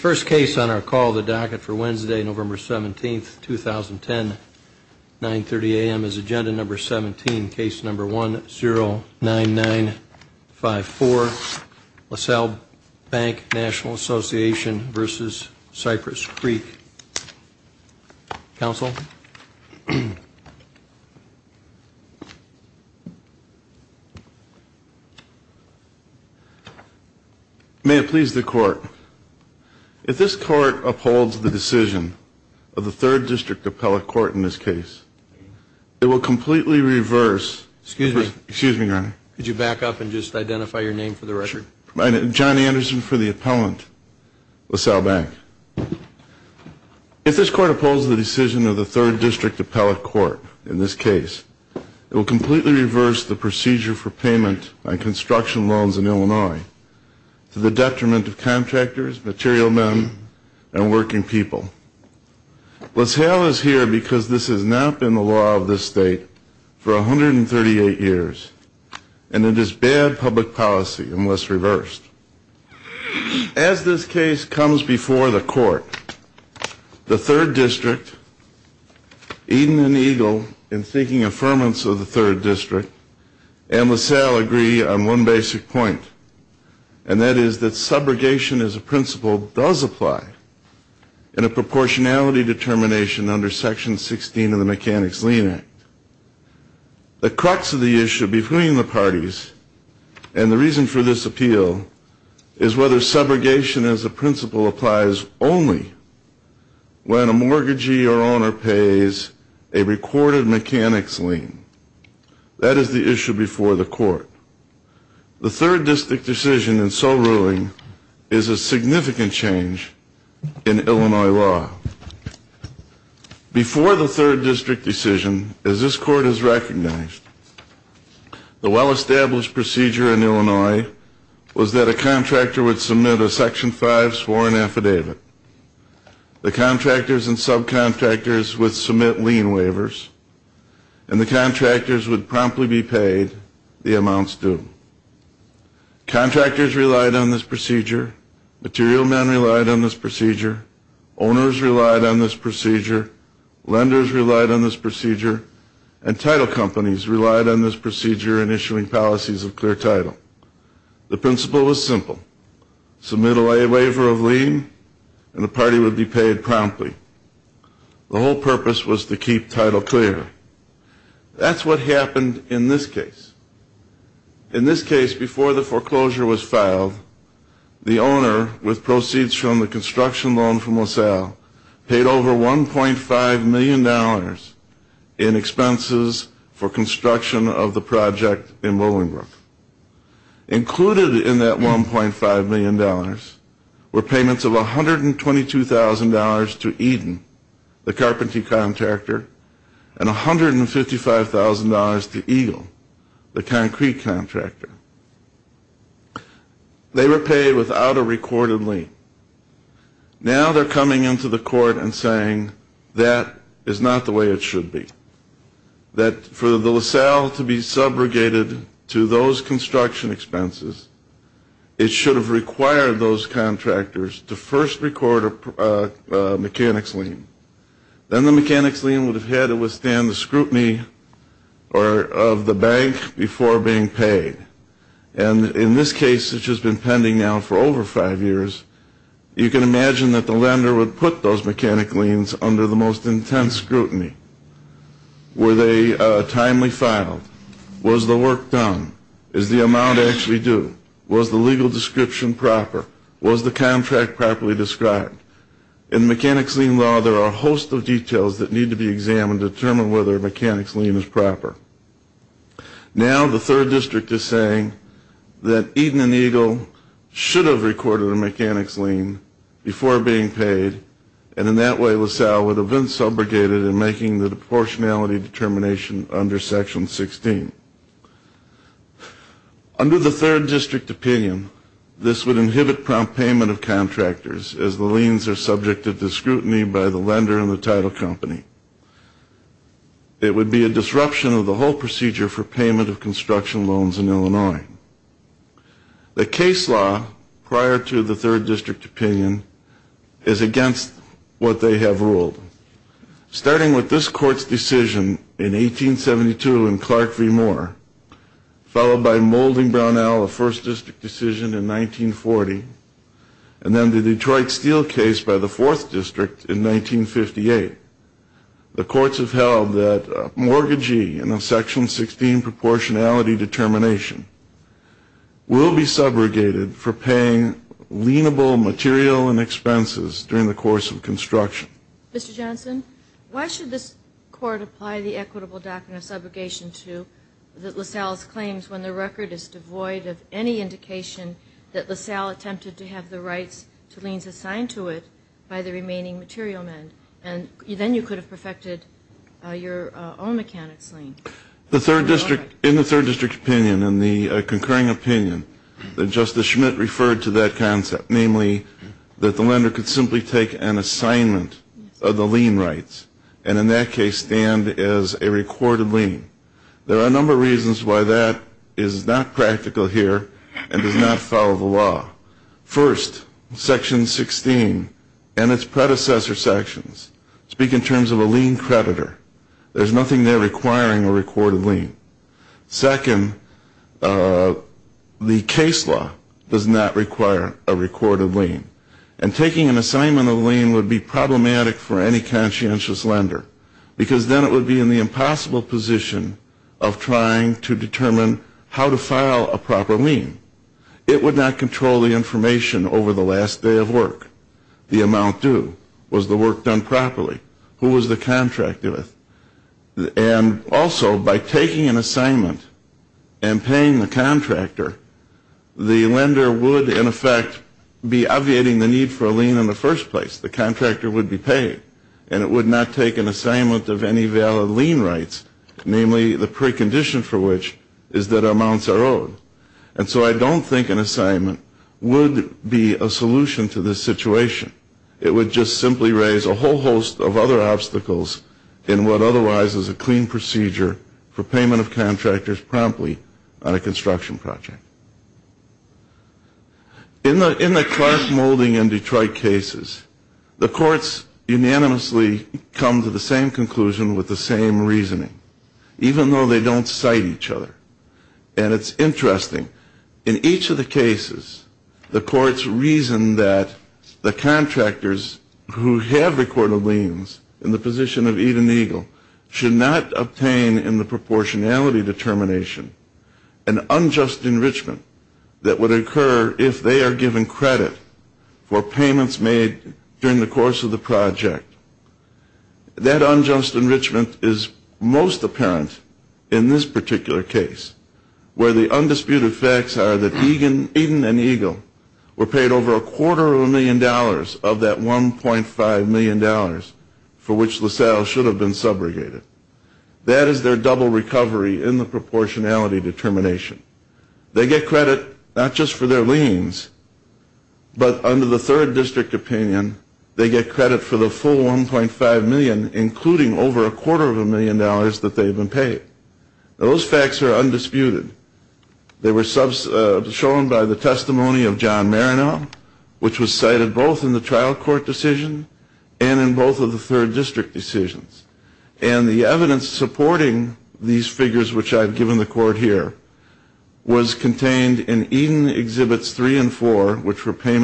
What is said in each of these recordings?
First case on our call, the docket for Wednesday, November 17th, 2010, 9.30 a.m. is agenda number 17, case number 109954, Lasalle Bank National Association v. Cypress Creek. Counsel? May it please the court, if this court upholds the decision of the third district appellate court in this case, it will completely reverse. Excuse me. Excuse me, your honor. Could you back up and just identify your name for the record? My name is John Anderson for the appellant, Lasalle Bank. If this court upholds the decision of the third district appellate court in this case, it will completely reverse the procedure for payment on construction loans in Illinois to the detriment of contractors, material men, and working people. Lasalle is here because this has not been the law of this state for 138 years, and it is bad public policy unless reversed. As this case comes before the court, the third district, Eden and Eagle, in seeking affirmance of the third district, and Lasalle agree on one basic point, and that is that subrogation as a principle does apply in a proportionality determination under section 16 of the Mechanics Lien Act. The crux of the issue between the parties and the reason for this appeal is whether subrogation as a principle applies only when a mortgagee or owner pays a recorded mechanics lien. That is the issue before the court. The third district decision in so ruling is a significant change in Illinois law. Before the third district decision, as this court has recognized, the well-established procedure in Illinois was that a contractor would submit a section 5 sworn affidavit. The contractors and subcontractors would submit lien waivers, and the contractors would promptly be paid the amounts due. Contractors relied on this procedure, material men relied on this procedure, owners relied on this procedure, lenders relied on this procedure, and title companies relied on this procedure in issuing policies of clear title. The principle was simple. Submit a waiver of lien, and the party would be paid promptly. The whole purpose was to keep title clear. That's what happened in this case. In this case, before the foreclosure was filed, the owner with proceeds from the construction loan from Lasalle included in that $1.5 million were payments of $122,000 to Eden, the carpentry contractor, and $155,000 to Eagle, the concrete contractor. They were paid without a recorded lien. Now they're coming into the court and saying that is not the way it should be. That for the Lasalle to be subrogated to those construction expenses, it should have required those contractors to first record a mechanics lien. Then the mechanics lien would have had to withstand the scrutiny of the bank before being paid. And in this case, which has been pending now for over five years, you can imagine that the lender would put those mechanics liens under the most intense scrutiny. Were they timely filed? Was the work done? Is the amount actually due? Was the legal description proper? Was the contract properly described? In mechanics lien law, there are a host of details that need to be examined to determine whether a mechanics lien is proper. Now the third district is saying that Eden and Eagle should have recorded a mechanics lien before being paid, and in that way Lasalle would have been subrogated in making the proportionality determination under Section 16. Under the third district opinion, this would inhibit prompt payment of contractors, as the liens are subject to scrutiny by the lender and the title company. It would be a disruption of the whole procedure for payment of construction loans in Illinois. The case law prior to the third district opinion is against what they have ruled. Starting with this court's decision in 1872 in Clark v. Moore, followed by Moulding Brownell, a first district decision in 1940, and then the Detroit Steel case by the fourth district in 1958, the courts have held that a mortgagee in a Section 16 proportionality determination will be subrogated for paying lienable material and expenses during the course of construction. Mr. Johnson, why should this court apply the equitable doctrine of subrogation to Lasalle's claims when the record is devoid of any indication that Lasalle attempted to have the rights to liens assigned to it by the remaining material men? And then you could have perfected your own mechanics lien. In the third district opinion, in the concurring opinion, Justice Schmidt referred to that concept, namely that the lender could simply take an assignment of the lien rights and in that case stand as a recorded lien. There are a number of reasons why that is not practical here and does not follow the law. First, Section 16 and its predecessor sections speak in terms of a lien creditor. There's nothing there requiring a recorded lien. Second, the case law does not require a recorded lien. And taking an assignment of the lien would be problematic for any conscientious lender because then it would be in the impossible position of trying to determine how to file a proper lien. It would not control the information over the last day of work. The amount due. Was the work done properly? Who was the contractor with? And also, by taking an assignment and paying the contractor, the lender would, in effect, be obviating the need for a lien in the first place. The contractor would be paid and it would not take an assignment of any valid lien rights, namely the precondition for which is that amounts are owed. And so I don't think an assignment would be a solution to this situation. It would just simply raise a whole host of other obstacles in what otherwise is a clean procedure for payment of contractors promptly on a construction project. In the Clark-Moulding and Detroit cases, the courts unanimously come to the same conclusion with the same reasoning, even though they don't cite each other. And it's interesting. In each of the cases, the courts reason that the contractors who have recorded liens in the position of Eden Eagle should not obtain in the proportionality determination an unjust enrichment that would occur if they are given credit for payments made during the course of the project. That unjust enrichment is most apparent in this particular case, where the undisputed facts are that Eden and Eagle were paid over a quarter of a million dollars of that $1.5 million for which LaSalle should have been subrogated. That is their double recovery in the proportionality determination. They get credit not just for their liens, but under the third district opinion, they get credit for the full $1.5 million, including over a quarter of a million dollars that they've been paid. Those facts are undisputed. They were shown by the testimony of John Marino, which was cited both in the trial court decision and in both of the third district decisions. And the evidence supporting these figures, which I've given the court here, was contained in Eden Exhibits 3 and 4, which were pay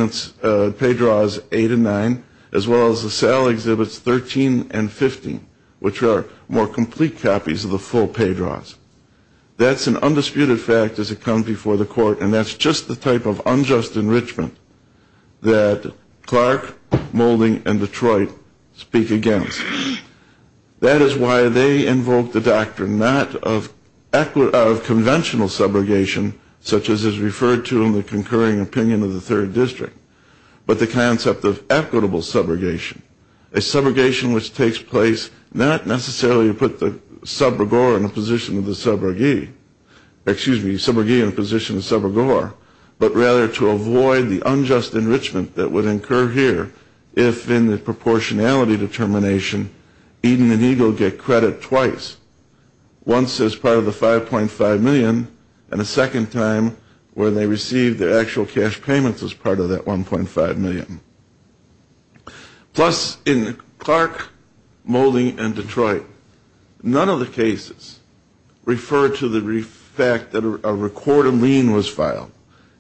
draws 8 and 9, as well as LaSalle Exhibits 13 and 15, which are more complete copies of the full pay draws. That's an undisputed fact as it comes before the court, and that's just the type of unjust enrichment that Clark, Moulding, and Detroit speak against. That is why they invoked the doctrine not of conventional subrogation, such as is referred to in the concurring opinion of the third district, but the concept of equitable subrogation, a subrogation which takes place not necessarily to put the subrogor in a position of the subrogee, excuse me, subrogee in a position of subrogor, but rather to avoid the unjust enrichment that would occur here if in the proportionality determination Eden and Eagle get credit twice, once as part of the 5.5 million and a second time where they receive their actual cash payments as part of that 1.5 million. Plus in Clark, Moulding, and Detroit, none of the cases refer to the fact that a recorded lien was filed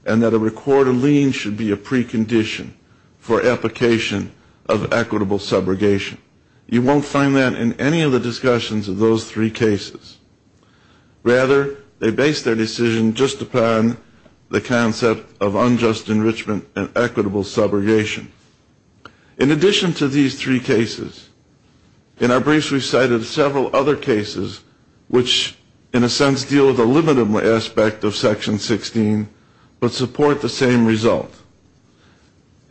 and that a recorded lien should be a precondition for application of equitable subrogation. You won't find that in any of the discussions of those three cases. Rather, they base their decision just upon the concept of unjust enrichment and equitable subrogation. In addition to these three cases, in our briefs we cited several other cases which in a sense deal with a limited aspect of Section 16, but support the same result.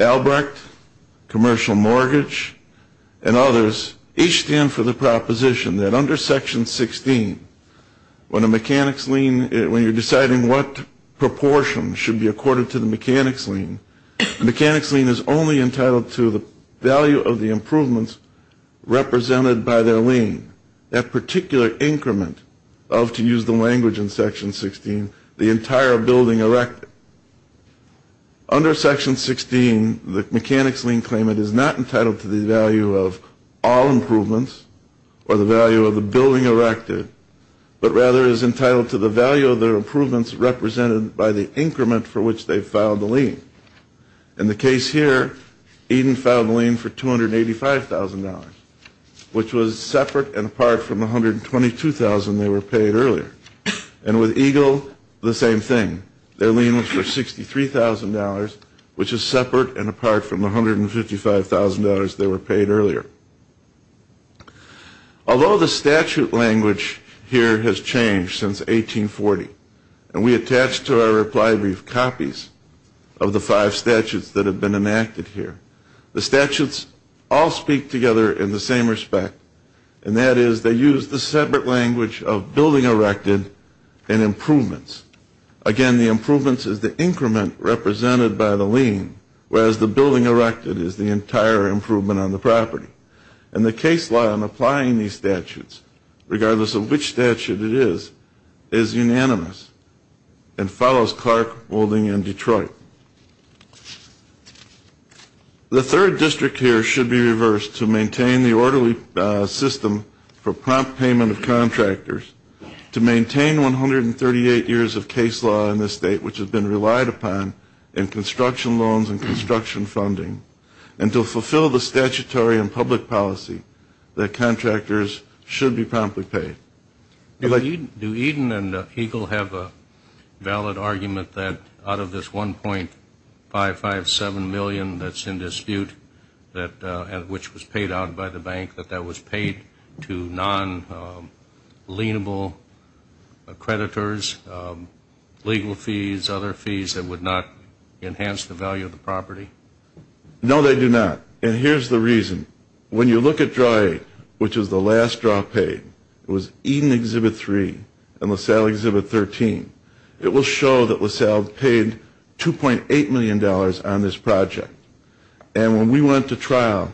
Albrecht, commercial mortgage, and others each stand for the proposition that under Section 16, when a mechanic's lien, when you're deciding what proportion should be accorded to the mechanic's lien, the mechanic's lien is only entitled to the value of the improvements represented by their lien. That particular increment of, to use the language in Section 16, the entire building erected. Under Section 16, the mechanic's lien claimant is not entitled to the value of all improvements or the value of the building erected, but rather is entitled to the value of the improvements represented by the increment for which they filed the lien. In the case here, Eden filed the lien for $285,000, which was separate and apart from the $122,000 they were paid earlier. And with Eagle, the same thing. Their lien was for $63,000, which is separate and apart from the $155,000 they were paid earlier. Although the statute language here has changed since 1840, and we attach to our reply brief copies of the five statutes that have been enacted here. The statutes all speak together in the same respect, and that is they use the separate language of building erected and improvements. Again, the improvements is the increment represented by the lien, whereas the building erected is the entire improvement on the property. And the case law in applying these statutes, regardless of which statute it is, is unanimous and follows Clark, Moulding, and Detroit. The third district here should be reversed to maintain the orderly system for prompt payment of contractors, to maintain 138 years of case law in this state, which has been relied upon in construction loans and construction funding, and to fulfill the statutory and public policy that contractors should be promptly paid. Do Eden and Eagle have a valid argument that out of this $1.557 million that's in dispute, which was paid out by the bank, that that was paid to non-lienable creditors, legal fees, other fees that would not enhance the value of the property? No, they do not. And here's the reason. When you look at Draw 8, which was the last draw paid, it was Eden Exhibit 3 and LaSalle Exhibit 13, it will show that LaSalle paid $2.8 million on this project. And when we went to trial,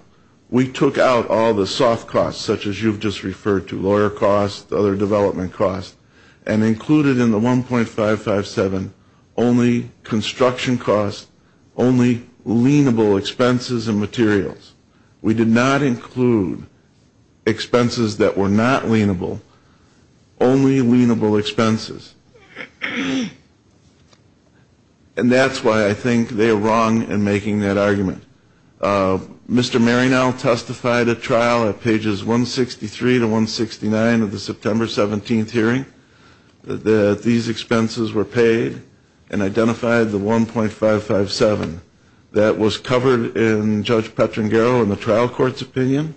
we took out all the soft costs, such as you've just referred to, lawyer costs, other development costs, and included in the $1.557 million only construction costs, only lienable expenses and materials. We did not include expenses that were not lienable, only lienable expenses. And that's why I think they are wrong in making that argument. Mr. Maryknoll testified at trial at pages 163 to 169 of the September 17th hearing that these expenses were paid and identified the $1.557 million. That was covered in Judge Petrangero in the trial court's opinion,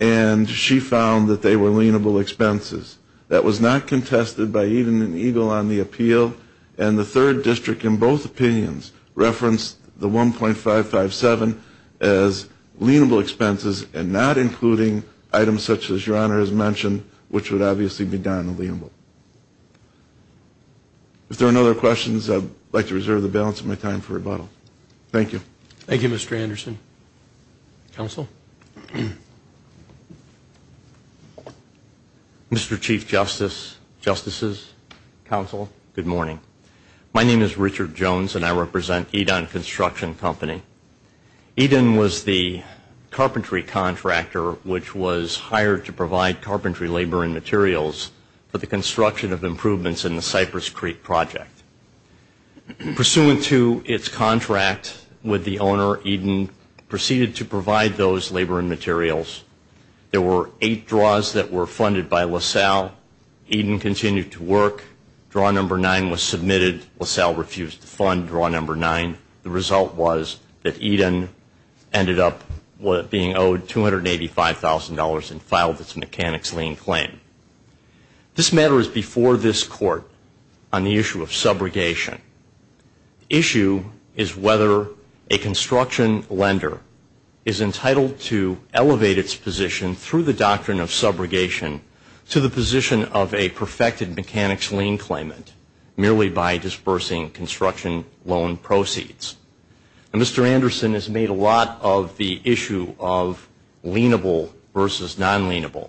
and she found that they were lienable expenses. That was not contested by Eden and Eagle on the appeal, and the third district in both opinions referenced the $1.557 million as lienable expenses and not including items such as Your Honor has mentioned, which would obviously be darned lienable. If there are no other questions, I'd like to reserve the balance of my time for rebuttal. Thank you. Thank you, Mr. Anderson. Counsel? Mr. Chief Justice, Justices, Counsel, good morning. My name is Richard Jones, and I represent Eden Construction Company. Eden was the carpentry contractor which was hired to provide carpentry labor and materials for the construction of improvements in the Cypress Creek project. Pursuant to its contract with the owner, Eden proceeded to provide those labor and materials. There were eight draws that were funded by LaSalle. Eden continued to work. Draw number nine was submitted. LaSalle refused to fund draw number nine. The result was that Eden ended up being owed $285,000 and filed its mechanics lien claim. This matter is before this Court on the issue of subrogation. The issue is whether a construction lender is entitled to elevate its position through the doctrine of subrogation to the position of a perfected mechanics lien claimant merely by dispersing construction loan proceeds. Mr. Anderson has made a lot of the issue of lienable versus non-lienable.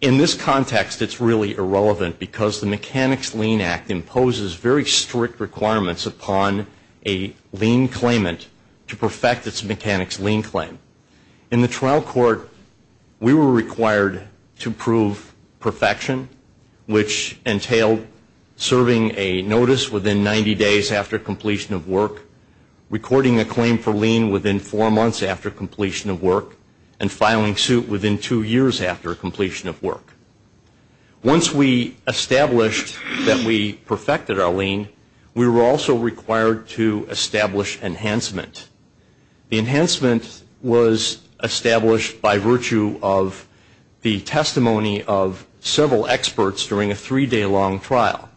In this context, it's really irrelevant because the Mechanics Lien Act imposes very strict requirements upon a lien claimant to perfect its mechanics lien claim. In the trial court, we were required to prove perfection, which entailed serving a notice within 90 days after completion of work, recording a claim for lien within four months after completion of work, and filing suit within two years after completion of work. Once we established that we perfected our lien, we were also required to establish enhancement. The enhancement was established by virtue of the testimony of several experts during a three-day-long trial.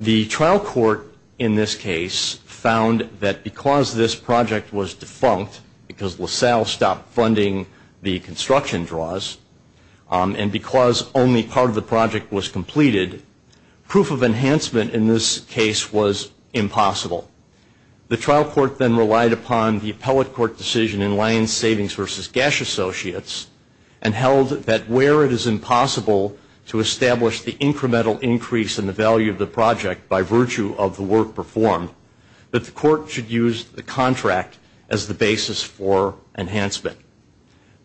The trial court in this case found that because this project was defunct, because LaSalle stopped funding the construction draws, and because only part of the project was completed, proof of enhancement in this case was impossible. The trial court then relied upon the appellate court decision in Lien Savings versus Gash Associates and held that where it is impossible to establish the incremental increase in the value of the project by virtue of the work performed, that the court should use the contract as the basis for enhancement.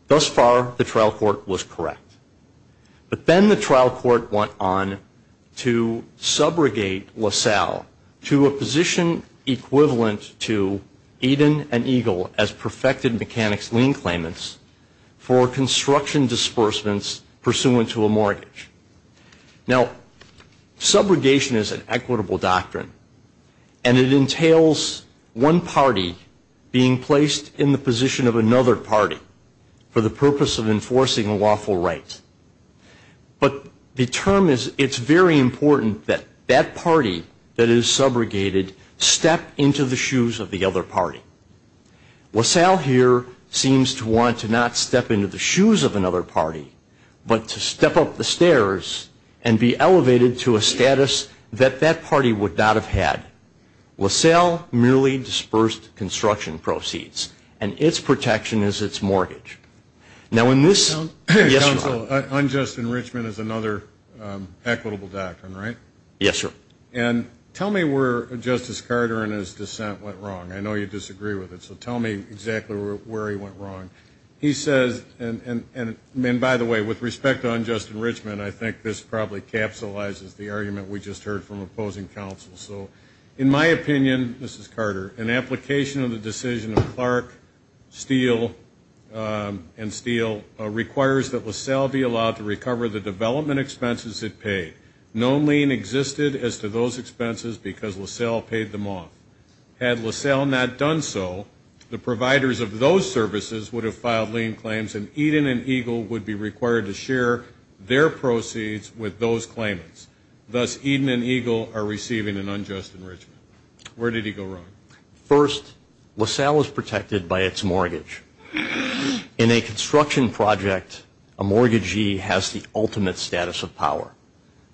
Thus far, the trial court was correct. But then the trial court went on to subrogate LaSalle to a position equivalent to Eden and Eagle as perfected mechanics lien claimants for construction disbursements pursuant to a mortgage. Now, subrogation is an equitable doctrine, and it entails one party being placed in the position of another party for the purpose of enforcing a lawful right. But the term is, it's very important that that party that is subrogated step into the shoes of the other party. LaSalle here seems to want to not step into the shoes of another party, but to step up the stairs and be elevated to a status that that party would not have had. LaSalle merely dispersed construction proceeds, and its protection is its mortgage. Now, in this... Counsel, unjust enrichment is another equitable doctrine, right? Yes, sir. And tell me where Justice Carter and his dissent went wrong. I know you disagree with it, so tell me exactly where he went wrong. He says, and by the way, with respect to unjust enrichment, I think this probably capsulizes the argument we just heard from opposing counsel. So, in my opinion, Mrs. Carter, an application of the decision of Clark, Steele, and Steele requires that LaSalle be allowed to recover the development expenses it paid. No lien existed as to those expenses because LaSalle paid them off. Had LaSalle not done so, the providers of those services would have filed lien claims, and Eden and Eagle would be required to share their proceeds with those claimants. Thus, Eden and Eagle are receiving an unjust enrichment. Where did he go wrong? First, LaSalle is protected by its mortgage. In a construction project, a mortgagee has the ultimate status of power.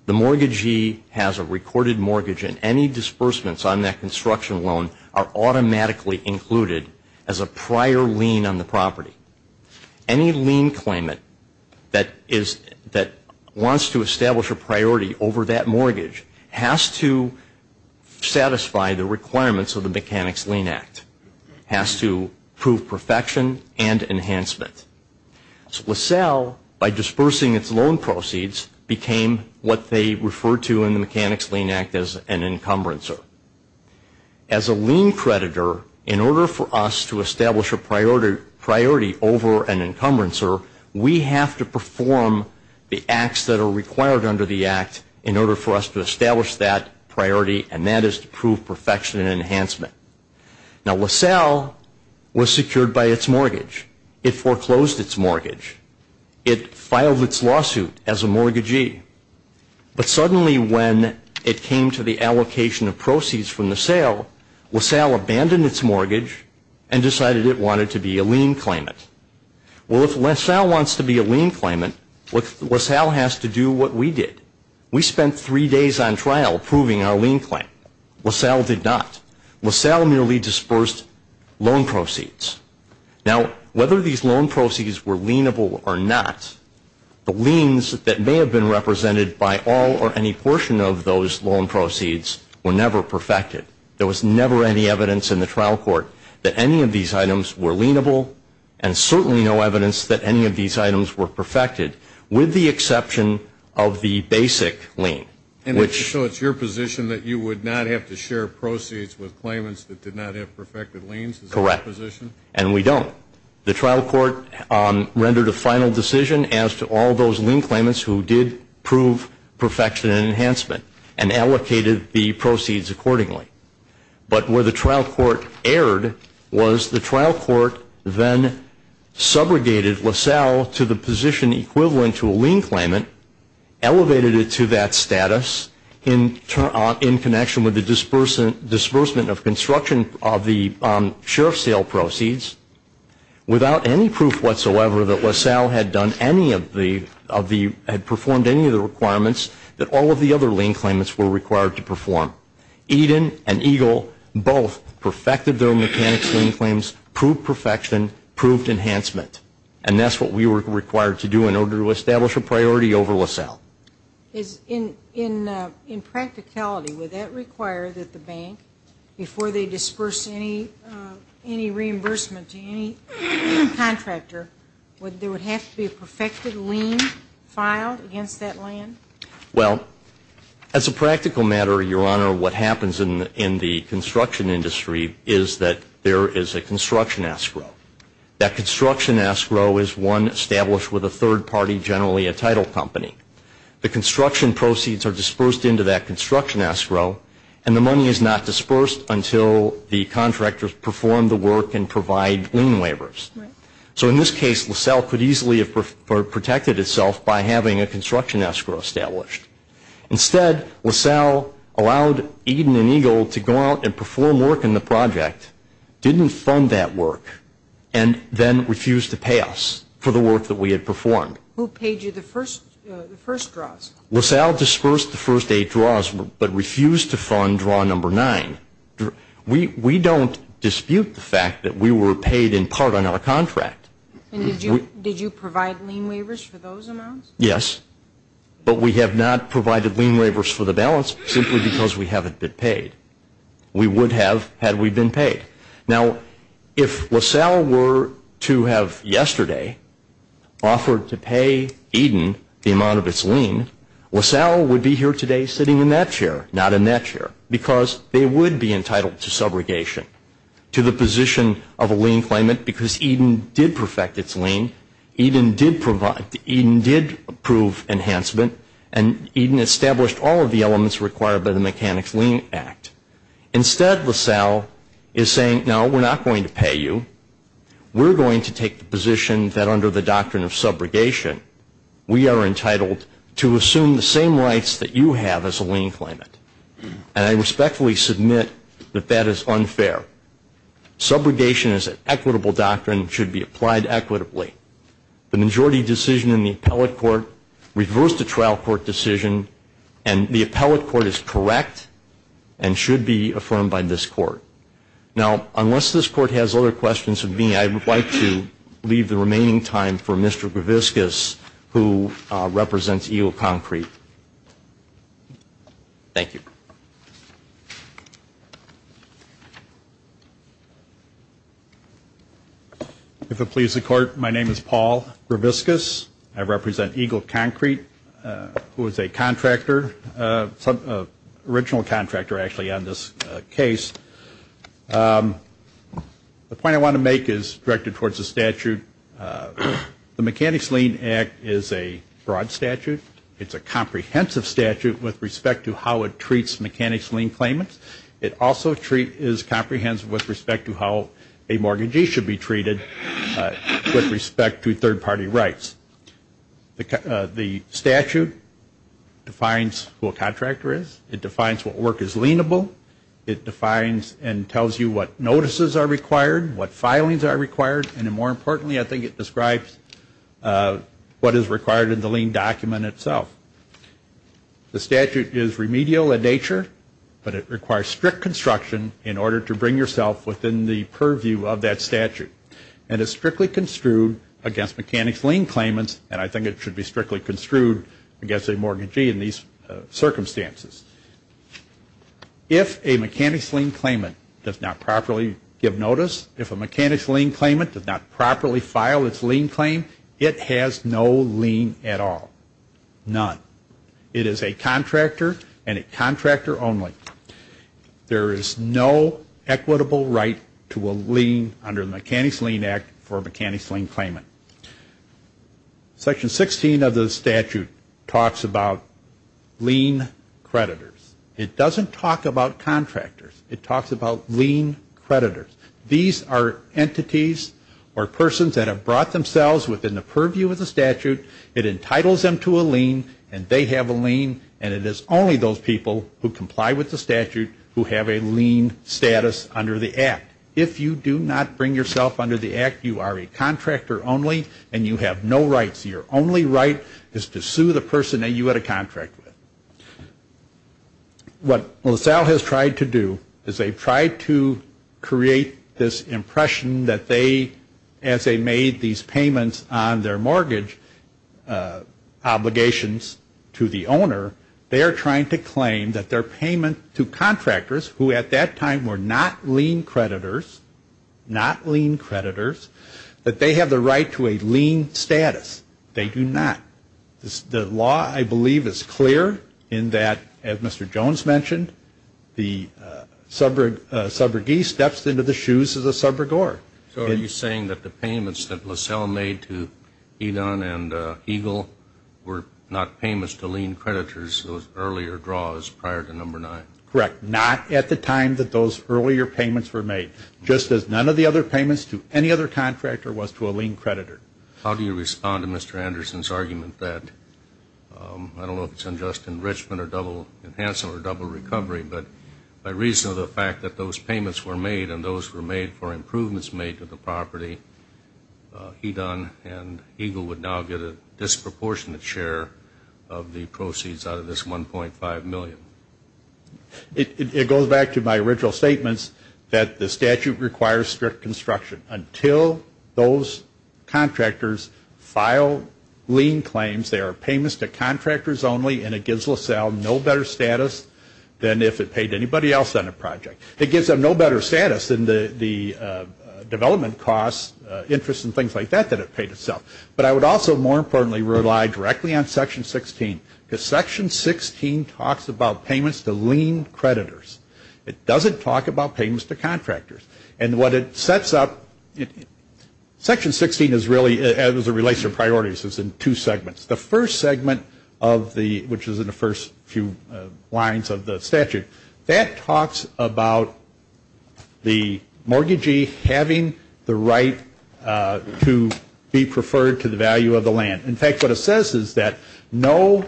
The mortgagee has a recorded mortgage, and any disbursements on that construction loan are automatically included as a prior lien on the property. Any lien claimant that wants to establish a priority over that mortgage has to satisfy the requirements of the Mechanics Lien Act, has to prove perfection and enhancement. LaSalle, by dispersing its loan proceeds, became what they referred to in the Mechanics Lien Act as an encumbrancer. As a lien creditor, in order for us to establish a priority over an encumbrancer, we have to perform the acts that are required under the act in order for us to establish that priority, and that is to prove perfection and enhancement. Now, LaSalle was secured by its mortgage. It foreclosed its mortgage. It filed its lawsuit as a mortgagee. But suddenly when it came to the allocation of proceeds from the sale, LaSalle abandoned its mortgage and decided it wanted to be a lien claimant. Well, if LaSalle wants to be a lien claimant, LaSalle has to do what we did. We spent three days on trial proving our lien claim. LaSalle did not. LaSalle merely dispersed loan proceeds. Now, whether these loan proceeds were lienable or not, the liens that may have been represented by all or any portion of those loan proceeds were never perfected. There was never any evidence in the trial court that any of these items were lienable and certainly no evidence that any of these items were perfected, with the exception of the basic lien. So it's your position that you would not have to share proceeds with claimants that did not have perfected liens? Correct. And we don't. The trial court rendered a final decision as to all those lien claimants who did prove perfection and enhancement and allocated the proceeds accordingly. But where the trial court erred was the trial court then subrogated LaSalle to the position equivalent to a lien claimant, elevated it to that status in connection with the disbursement of construction of the sheriff's sale proceeds, without any proof whatsoever that LaSalle had performed any of the requirements that all of the other lien claimants were required to perform. Eden and Eagle both perfected their mechanics lien claims, proved perfection, proved enhancement. And that's what we were required to do in order to establish a priority over LaSalle. In practicality, would that require that the bank, before they disperse any reimbursement to any contractor, there would have to be a perfected lien filed against that land? Well, as a practical matter, Your Honor, what happens in the construction industry is that there is a construction escrow. That construction escrow is one established with a third party, generally a title company. The construction proceeds are dispersed into that construction escrow, and the money is not dispersed until the contractors perform the work and provide lien waivers. So in this case, LaSalle could easily have protected itself by having a construction escrow established. Instead, LaSalle allowed Eden and Eagle to go out and perform work in the project, didn't fund that work, and then refused to pay us for the work that we had performed. Who paid you the first draws? LaSalle dispersed the first eight draws but refused to fund draw number nine. We don't dispute the fact that we were paid in part on our contract. And did you provide lien waivers for those amounts? Yes, but we have not provided lien waivers for the balance simply because we haven't been paid. We would have had we been paid. Now, if LaSalle were to have yesterday offered to pay Eden the amount of its lien, LaSalle would be here today sitting in that chair, not in that chair, because they would be entitled to subrogation to the position of a lien claimant because Eden did perfect its lien, Eden did approve enhancement, and Eden established all of the elements required by the Mechanics' Lien Act. Instead, LaSalle is saying, no, we're not going to pay you. We're going to take the position that under the doctrine of subrogation, we are entitled to assume the same rights that you have as a lien claimant. And I respectfully submit that that is unfair. Subrogation is an equitable doctrine and should be applied equitably. The majority decision in the appellate court reversed a trial court decision, and the appellate court is correct and should be affirmed by this court. Now, unless this court has other questions of me, I would like to leave the remaining time for Mr. Graviscus, who represents EO Concrete. Thank you. If it pleases the Court, my name is Paul Graviscus. I represent EO Concrete, who is a contractor, an original contractor, actually, on this case. The point I want to make is directed towards the statute. The Mechanics' Lien Act is a broad statute. It's a comprehensive statute with respect to how it treats subrogation. It treats mechanics' lien claimants. It also is comprehensive with respect to how a mortgagee should be treated with respect to third-party rights. The statute defines who a contractor is. It defines what work is lienable. It defines and tells you what notices are required, what filings are required, and more importantly, I think it describes what is required in the lien document itself. The statute is remedial in nature, but it requires strict construction in order to bring yourself within the purview of that statute. And it's strictly construed against mechanics' lien claimants, and I think it should be strictly construed against a mortgagee in these circumstances. If a mechanics' lien claimant does not properly give notice, if a mechanics' lien claimant does not properly file its lien claim, it has no lien at all. None. It is a contractor and a contractor only. There is no equitable right to a lien under the Mechanics' Lien Act for a mechanics' lien claimant. Section 16 of the statute talks about lien creditors. It doesn't talk about contractors. It talks about lien creditors. These are entities or persons that have brought themselves within the purview of the statute. It entitles them to a lien, and they have a lien, and it is only those people who comply with the statute who have a lien status under the Act. If you do not bring yourself under the Act, you are a contractor only, and you have no rights. Your only right is to sue the person that you had a contract with. What LaSalle has tried to do is they've tried to create this impression that they, as they made these payments on their mortgage obligations to the owner, they are trying to claim that their payment to contractors, who at that time were not lien creditors, not lien creditors, that they have the right to a lien status. They do not. The law, I believe, is clear in that, as Mr. Jones mentioned, the subrogee steps into the shoes of the subrogor. So are you saying that the payments that LaSalle made to Edon and Eagle were not payments to lien creditors, those earlier draws prior to number nine? Correct. Not at the time that those earlier payments were made, just as none of the other payments to any other contractor was to a lien creditor. How do you respond to Mr. Anderson's argument that, I don't know if it's unjust enrichment or double enhancement or double recovery, but by reason of the fact that those payments were made and those were made for improvements made to the property, Edon and Eagle would now get a disproportionate share of the proceeds out of this $1.5 million? It goes back to my original statements that the statute requires strict construction. Until those contractors file lien claims, they are payments to contractors only and it gives LaSalle no better status than if it paid anybody else on a project. It gives them no better status than the development costs, interest and things like that, than it paid itself. But I would also, more importantly, rely directly on Section 16. Because Section 16 talks about payments to lien creditors. It doesn't talk about payments to contractors. And what it sets up, Section 16 is really, as it relates to priorities, is in two segments. The first segment of the, which is in the first few lines of the statute, that talks about the mortgagee having the right to be preferred to the value of the land. In fact, what it says is that no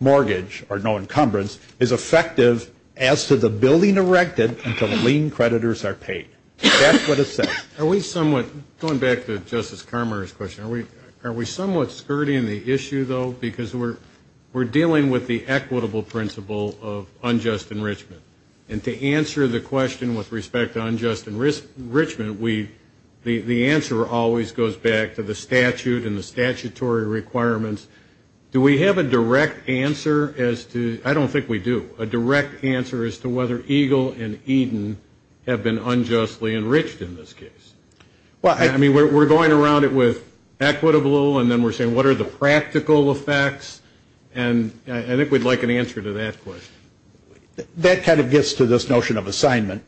mortgage or no encumbrance is effective as to the building erected until the lien creditors are paid. That's what it says. Are we somewhat, going back to Justice Carmoner's question, are we somewhat skirting the issue, though? Because we're dealing with the equitable principle of unjust enrichment. And to answer the question with respect to unjust enrichment, the answer always goes back to the statute and the statutory requirements. Do we have a direct answer as to, I don't think we do, a direct answer as to whether EGLE and Eden have been unjustly enriched in this case? I mean, we're going around it with equitable, and then we're saying, what are the practical effects? And I think we'd like an answer to that question. That kind of gets to this notion of assignment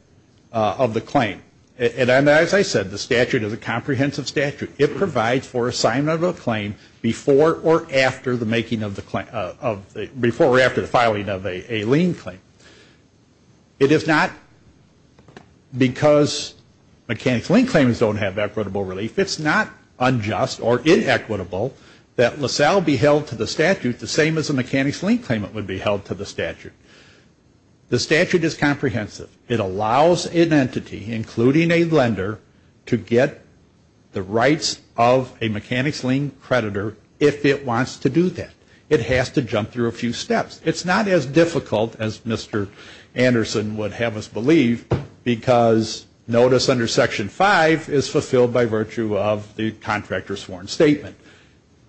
of the claim. And as I said, the statute is a comprehensive statute. It provides for assignment of a claim before or after the making of the claim, before or after the filing of a lien claim. It is not because mechanics lien claims don't have equitable relief. It's not unjust or inequitable that LaSalle be held to the statute the same as a mechanics lien claimant would be held to the statute. The statute is comprehensive. It allows an entity, including a lender, to get the rights of a mechanics lien creditor if it wants to do that. It has to jump through a few steps. It's not as difficult as Mr. Anderson would have us believe, because notice under Section 5 is fulfilled by virtue of the contractor's sworn statement.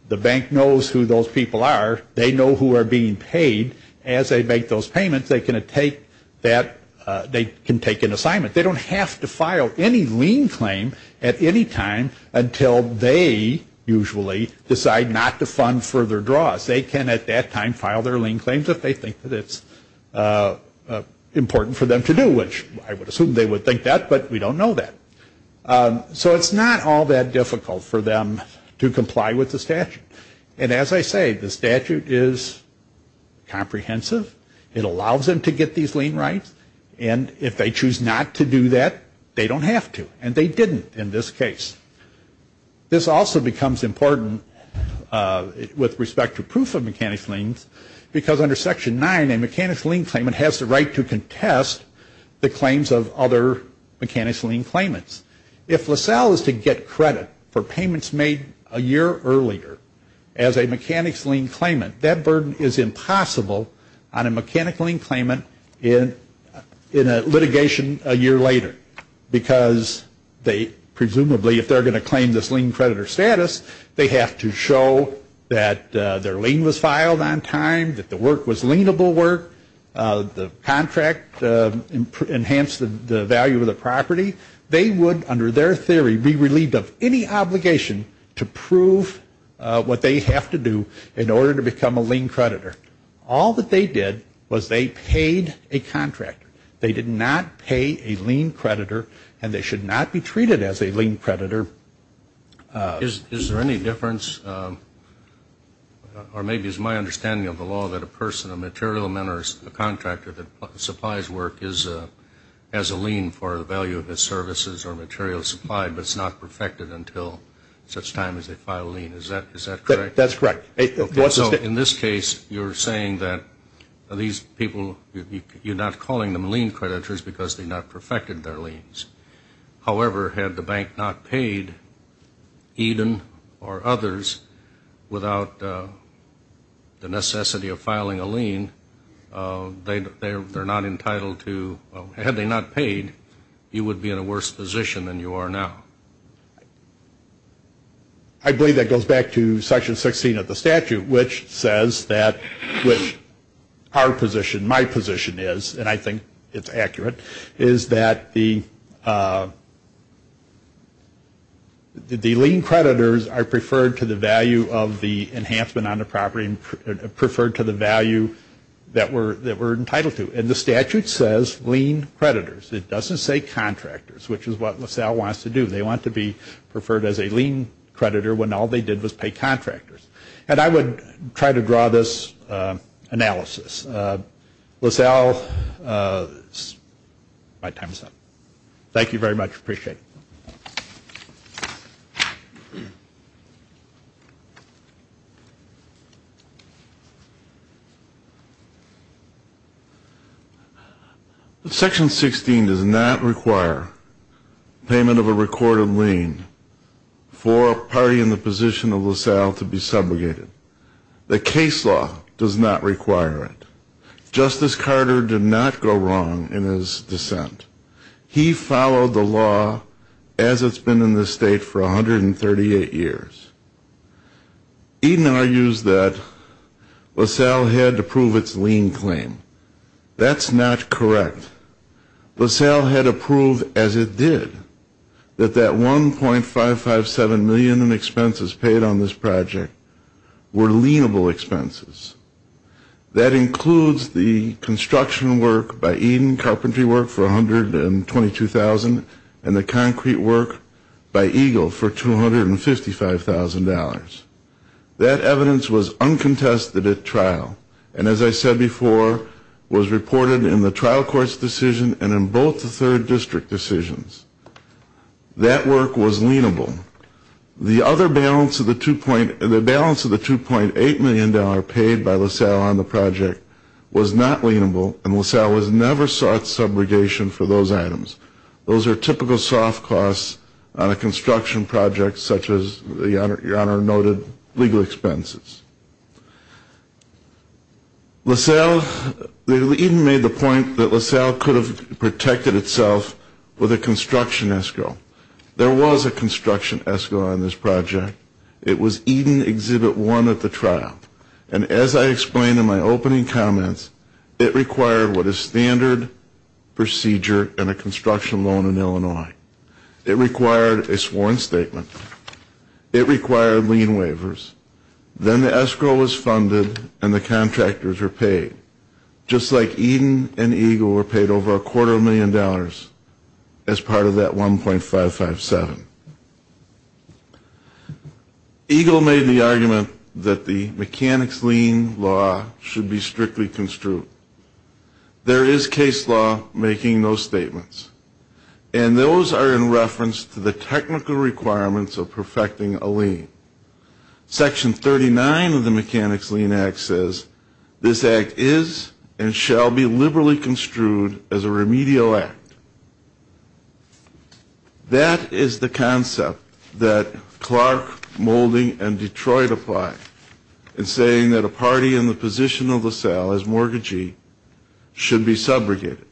The bank knows who those people are. They know who are being paid. As they make those payments, they can take an assignment. They don't have to file any lien claim at any time until they usually decide not to fund further draws. They can at that time file their lien claims if they think that it's important for them to do, which I would assume they would think that, but we don't know that. So it's not all that difficult for them to comply with the statute. And as I say, the statute is comprehensive. It allows them to get these lien rights, and if they choose not to do that, they don't have to, and they didn't in this case. This also becomes important with respect to proof of mechanics liens, because under Section 9 a mechanics lien claimant has the right to contest the claims of other mechanics lien claimants. If LaSalle is to get credit for payments made a year earlier as a mechanics lien claimant, that burden is impossible on a mechanics lien claimant in a litigation a year later, because they presumably, if they're going to claim this lien creditor status, they have to show that their lien was filed on time, that the work was lienable work, the contract enhanced the value of the property. They would, under their theory, be relieved of any obligation to prove what they have to do in order to become a lien creditor. All that they did was they paid a contractor. They did not pay a lien creditor, and they should not be treated as a lien creditor. Is there any difference, or maybe it's my understanding of the law, that a person, a material man or a contractor that supplies work has a lien for the value of his services or materials supplied, but it's not perfected until such time as they file a lien. Is that correct? That's correct. In this case, you're saying that these people, you're not calling them lien creditors because they not perfected their liens. However, had the bank not paid Eden or others without the necessity of filing a lien, they're not entitled to, had they not paid, you would be in a worse position than you are now. I believe that goes back to Section 16 of the statute, which says that, which our position, my position is, and I think it's accurate, is that the lien creditors are preferred to the value of the enhancement on the property, preferred to the value that we're entitled to. And the statute says lien creditors. It doesn't say contractors, which is what LaSalle wants to do. They want to be preferred as a lien creditor when all they did was pay contractors. And I would try to draw this analysis. LaSalle, my time is up. Thank you very much. Appreciate it. Section 16 does not require payment of a recorded lien for a party in the position of LaSalle to be subjugated. The case law does not require it. Justice Carter did not go wrong in his dissent. He followed the law as it's been in this state for 138 years. Eden argues that LaSalle had to prove its lien claim. That's not correct. LaSalle had to prove as it did that that $1.557 million in expenses paid on this project were lienable expenses. That includes the construction work by Eden, carpentry work for $122,000, and the concrete work by Eagle for $255,000. That evidence was uncontested at trial and, as I said before, was reported in the trial court's decision and in both the third district decisions. That work was lienable. The balance of the $2.8 million paid by LaSalle on the project was not lienable, and LaSalle was never sought subrogation for those items. Those are typical soft costs on a construction project such as your Honor noted legal expenses. Eden made the point that LaSalle could have protected itself with a construction escrow. There was a construction escrow on this project. It was Eden Exhibit 1 at the trial, and as I explained in my opening comments, it required what is standard procedure in a construction loan in Illinois. It required a sworn statement. It required lien waivers. Then the escrow was funded and the contractors were paid, just like Eden and Eagle were paid over a quarter of a million dollars as part of that $1.557. Eagle made the argument that the mechanics lien law should be strictly construed. There is case law making those statements, and those are in reference to the technical requirements of perfecting a lien. Section 39 of the Mechanics Lien Act says, this act is and shall be liberally construed as a remedial act. That is the concept that Clark, Moulding, and Detroit apply in saying that a party in the position of LaSalle as mortgagee should be subrogated.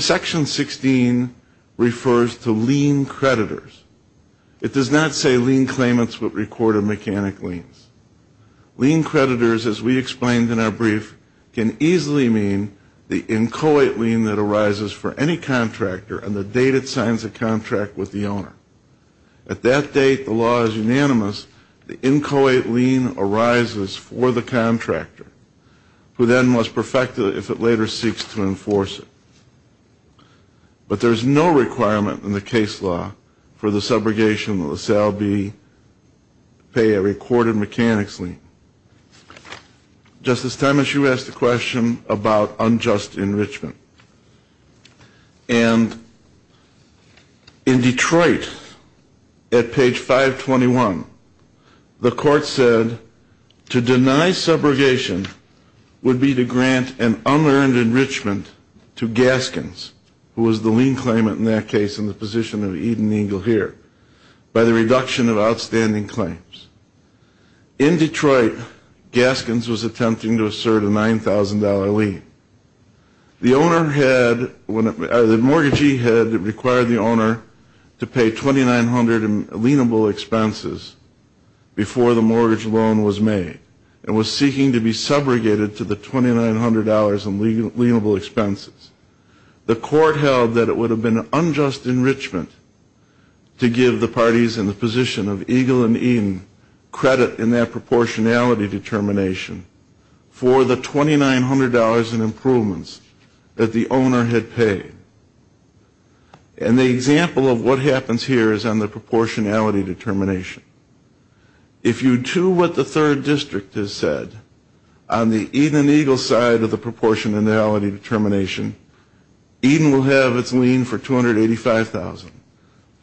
Section 16 refers to lien creditors. It does not say lien claimants would record a mechanic lien. Lien creditors, as we explained in our brief, can easily mean the inchoate lien that arises for any contractor on the date it signs a contract with the owner. At that date, the law is unanimous. The inchoate lien arises for the contractor, who then must perfect it if it later seeks to enforce it. But there is no requirement in the case law for the subrogation that LaSalle be to pay a recorded mechanics lien. Justice Thomas, you asked a question about unjust enrichment. And in Detroit, at page 521, the court said, to deny subrogation would be to grant an unearned enrichment to Gaskins, who was the lien claimant in that case in the position of Eden Eagle here, by the reduction of outstanding claims. In Detroit, Gaskins was attempting to assert a $9,000 lien. The mortgagee had required the owner to pay 2,900 in lienable expenses before the mortgage loan was made and was seeking to be subrogated to the $2,900 in lienable expenses. The court held that it would have been unjust enrichment to give the parties in the position of Eagle and Eden credit in that proportionality determination for the $2,900 in improvements that the owner had paid. And the example of what happens here is on the proportionality determination. If you do what the third district has said on the Eden Eagle side of the proportionality determination, Eden will have its lien for $285,000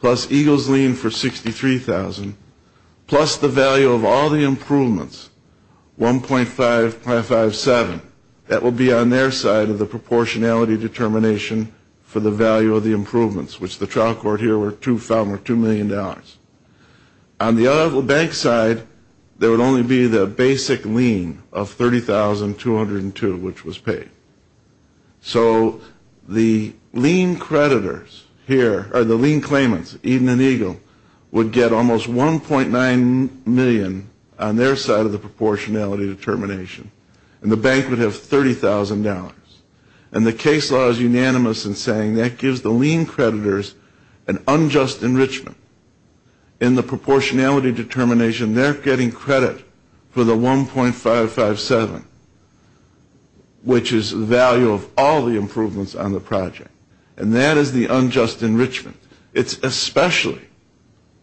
plus Eagle's lien for $63,000 plus the value of all the improvements, $1.557, that will be on their side of the proportionality determination for the value of the improvements, which the trial court here felt were $2 million. On the other bank side, there would only be the basic lien of $30,202 which was paid. So the lien creditors here, or the lien claimants, Eden and Eagle, would get almost $1.9 million on their side of the proportionality determination and the bank would have $30,000. And the case law is unanimous in saying that gives the lien creditors an unjust enrichment in the proportionality determination. They're getting credit for the $1.557, which is the value of all the improvements on the project. And that is the unjust enrichment. It's especially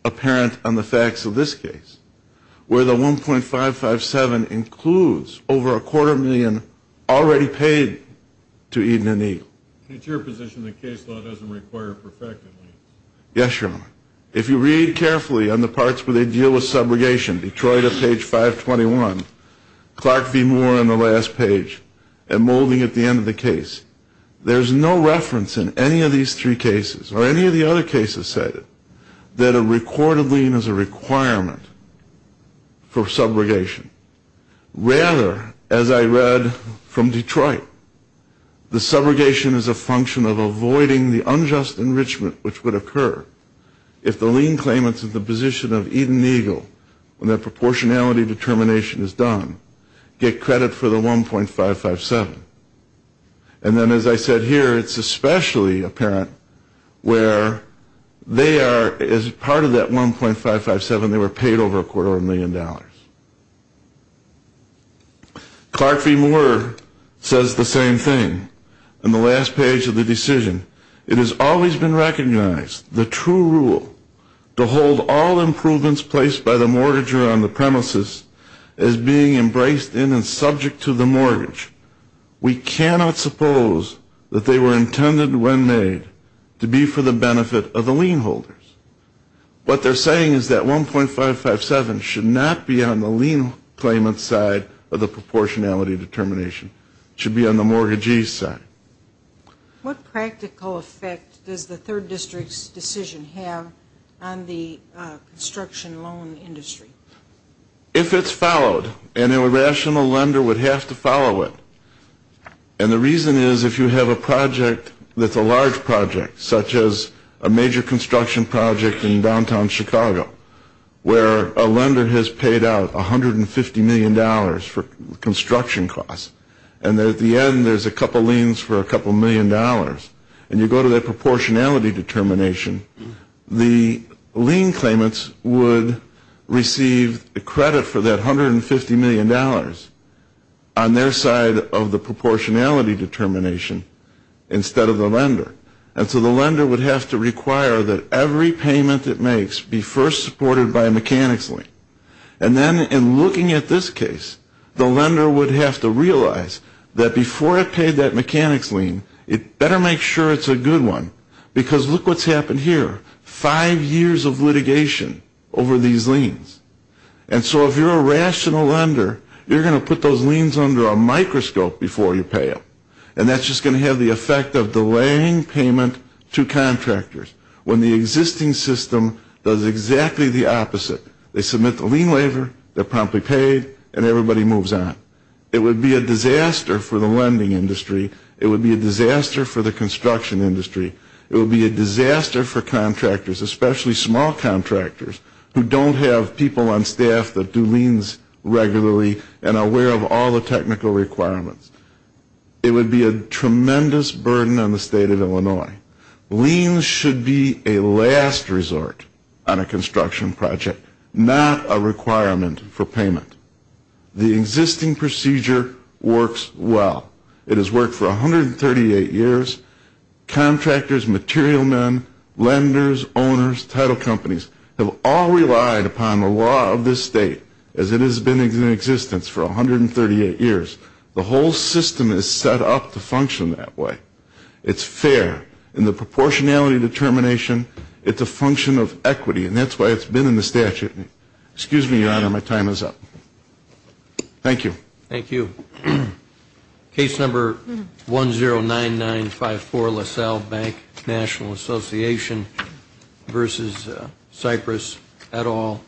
apparent on the facts of this case where the $1.557 includes over a quarter million already paid to Eden and Eagle. It's your position the case law doesn't require perfected liens. Yes, Your Honor. If you read carefully on the parts where they deal with subrogation, Detroit at page 521, Clark v. Moore on the last page, and Moulding at the end of the case, there's no reference in any of these three cases, or any of the other cases cited, that a recorded lien is a requirement for subrogation. Rather, as I read from Detroit, the subrogation is a function of avoiding the unjust enrichment which would occur if the lien claimant's in the position of Eden and Eagle when their proportionality determination is done, get credit for the $1.557. And then as I said here, it's especially apparent where they are, as part of that $1.557, they were paid over a quarter of a million dollars. Clark v. Moore says the same thing on the last page of the decision. It has always been recognized the true rule to hold all improvements placed by the mortgager on the premises as being embraced in and subject to the mortgage. We cannot suppose that they were intended when made to be for the benefit of the lien holders. What they're saying is that $1.557 should not be on the lien claimant's side of the proportionality determination. It should be on the mortgagee's side. What practical effect does the third district's decision have on the construction loan industry? If it's followed, an irrational lender would have to follow it. And the reason is if you have a project that's a large project, such as a major construction project in downtown Chicago, where a lender has paid out $150 million for construction costs, and at the end there's a couple liens for a couple million dollars, and you go to that proportionality determination, the lien claimants would receive the credit for that $150 million on their side of the proportionality determination instead of the lender. And so the lender would have to require that every payment it makes be first supported by a mechanics lien. And then in looking at this case, the lender would have to realize that before it paid that mechanics lien, it better make sure it's a good one, because look what's happened here. Five years of litigation over these liens. And so if you're a rational lender, you're going to put those liens under a microscope before you pay them. And that's just going to have the effect of delaying payment to contractors. When the existing system does exactly the opposite. They submit the lien waiver, they're promptly paid, and everybody moves on. It would be a disaster for the lending industry. It would be a disaster for the construction industry. It would be a disaster for contractors, especially small contractors, who don't have people on staff that do liens regularly and are aware of all the technical requirements. It would be a tremendous burden on the state of Illinois. Liens should be a last resort on a construction project, not a requirement for payment. The existing procedure works well. It has worked for 138 years. Contractors, material men, lenders, owners, title companies have all relied upon the law of this state as it has been in existence for 138 years. The whole system is set up to function that way. It's fair in the proportionality determination. It's a function of equity, and that's why it's been in the statute. Excuse me, Your Honor, my time is up. Thank you. Thank you. Case number 109954, LaSalle Bank National Association v. Cypress, et al.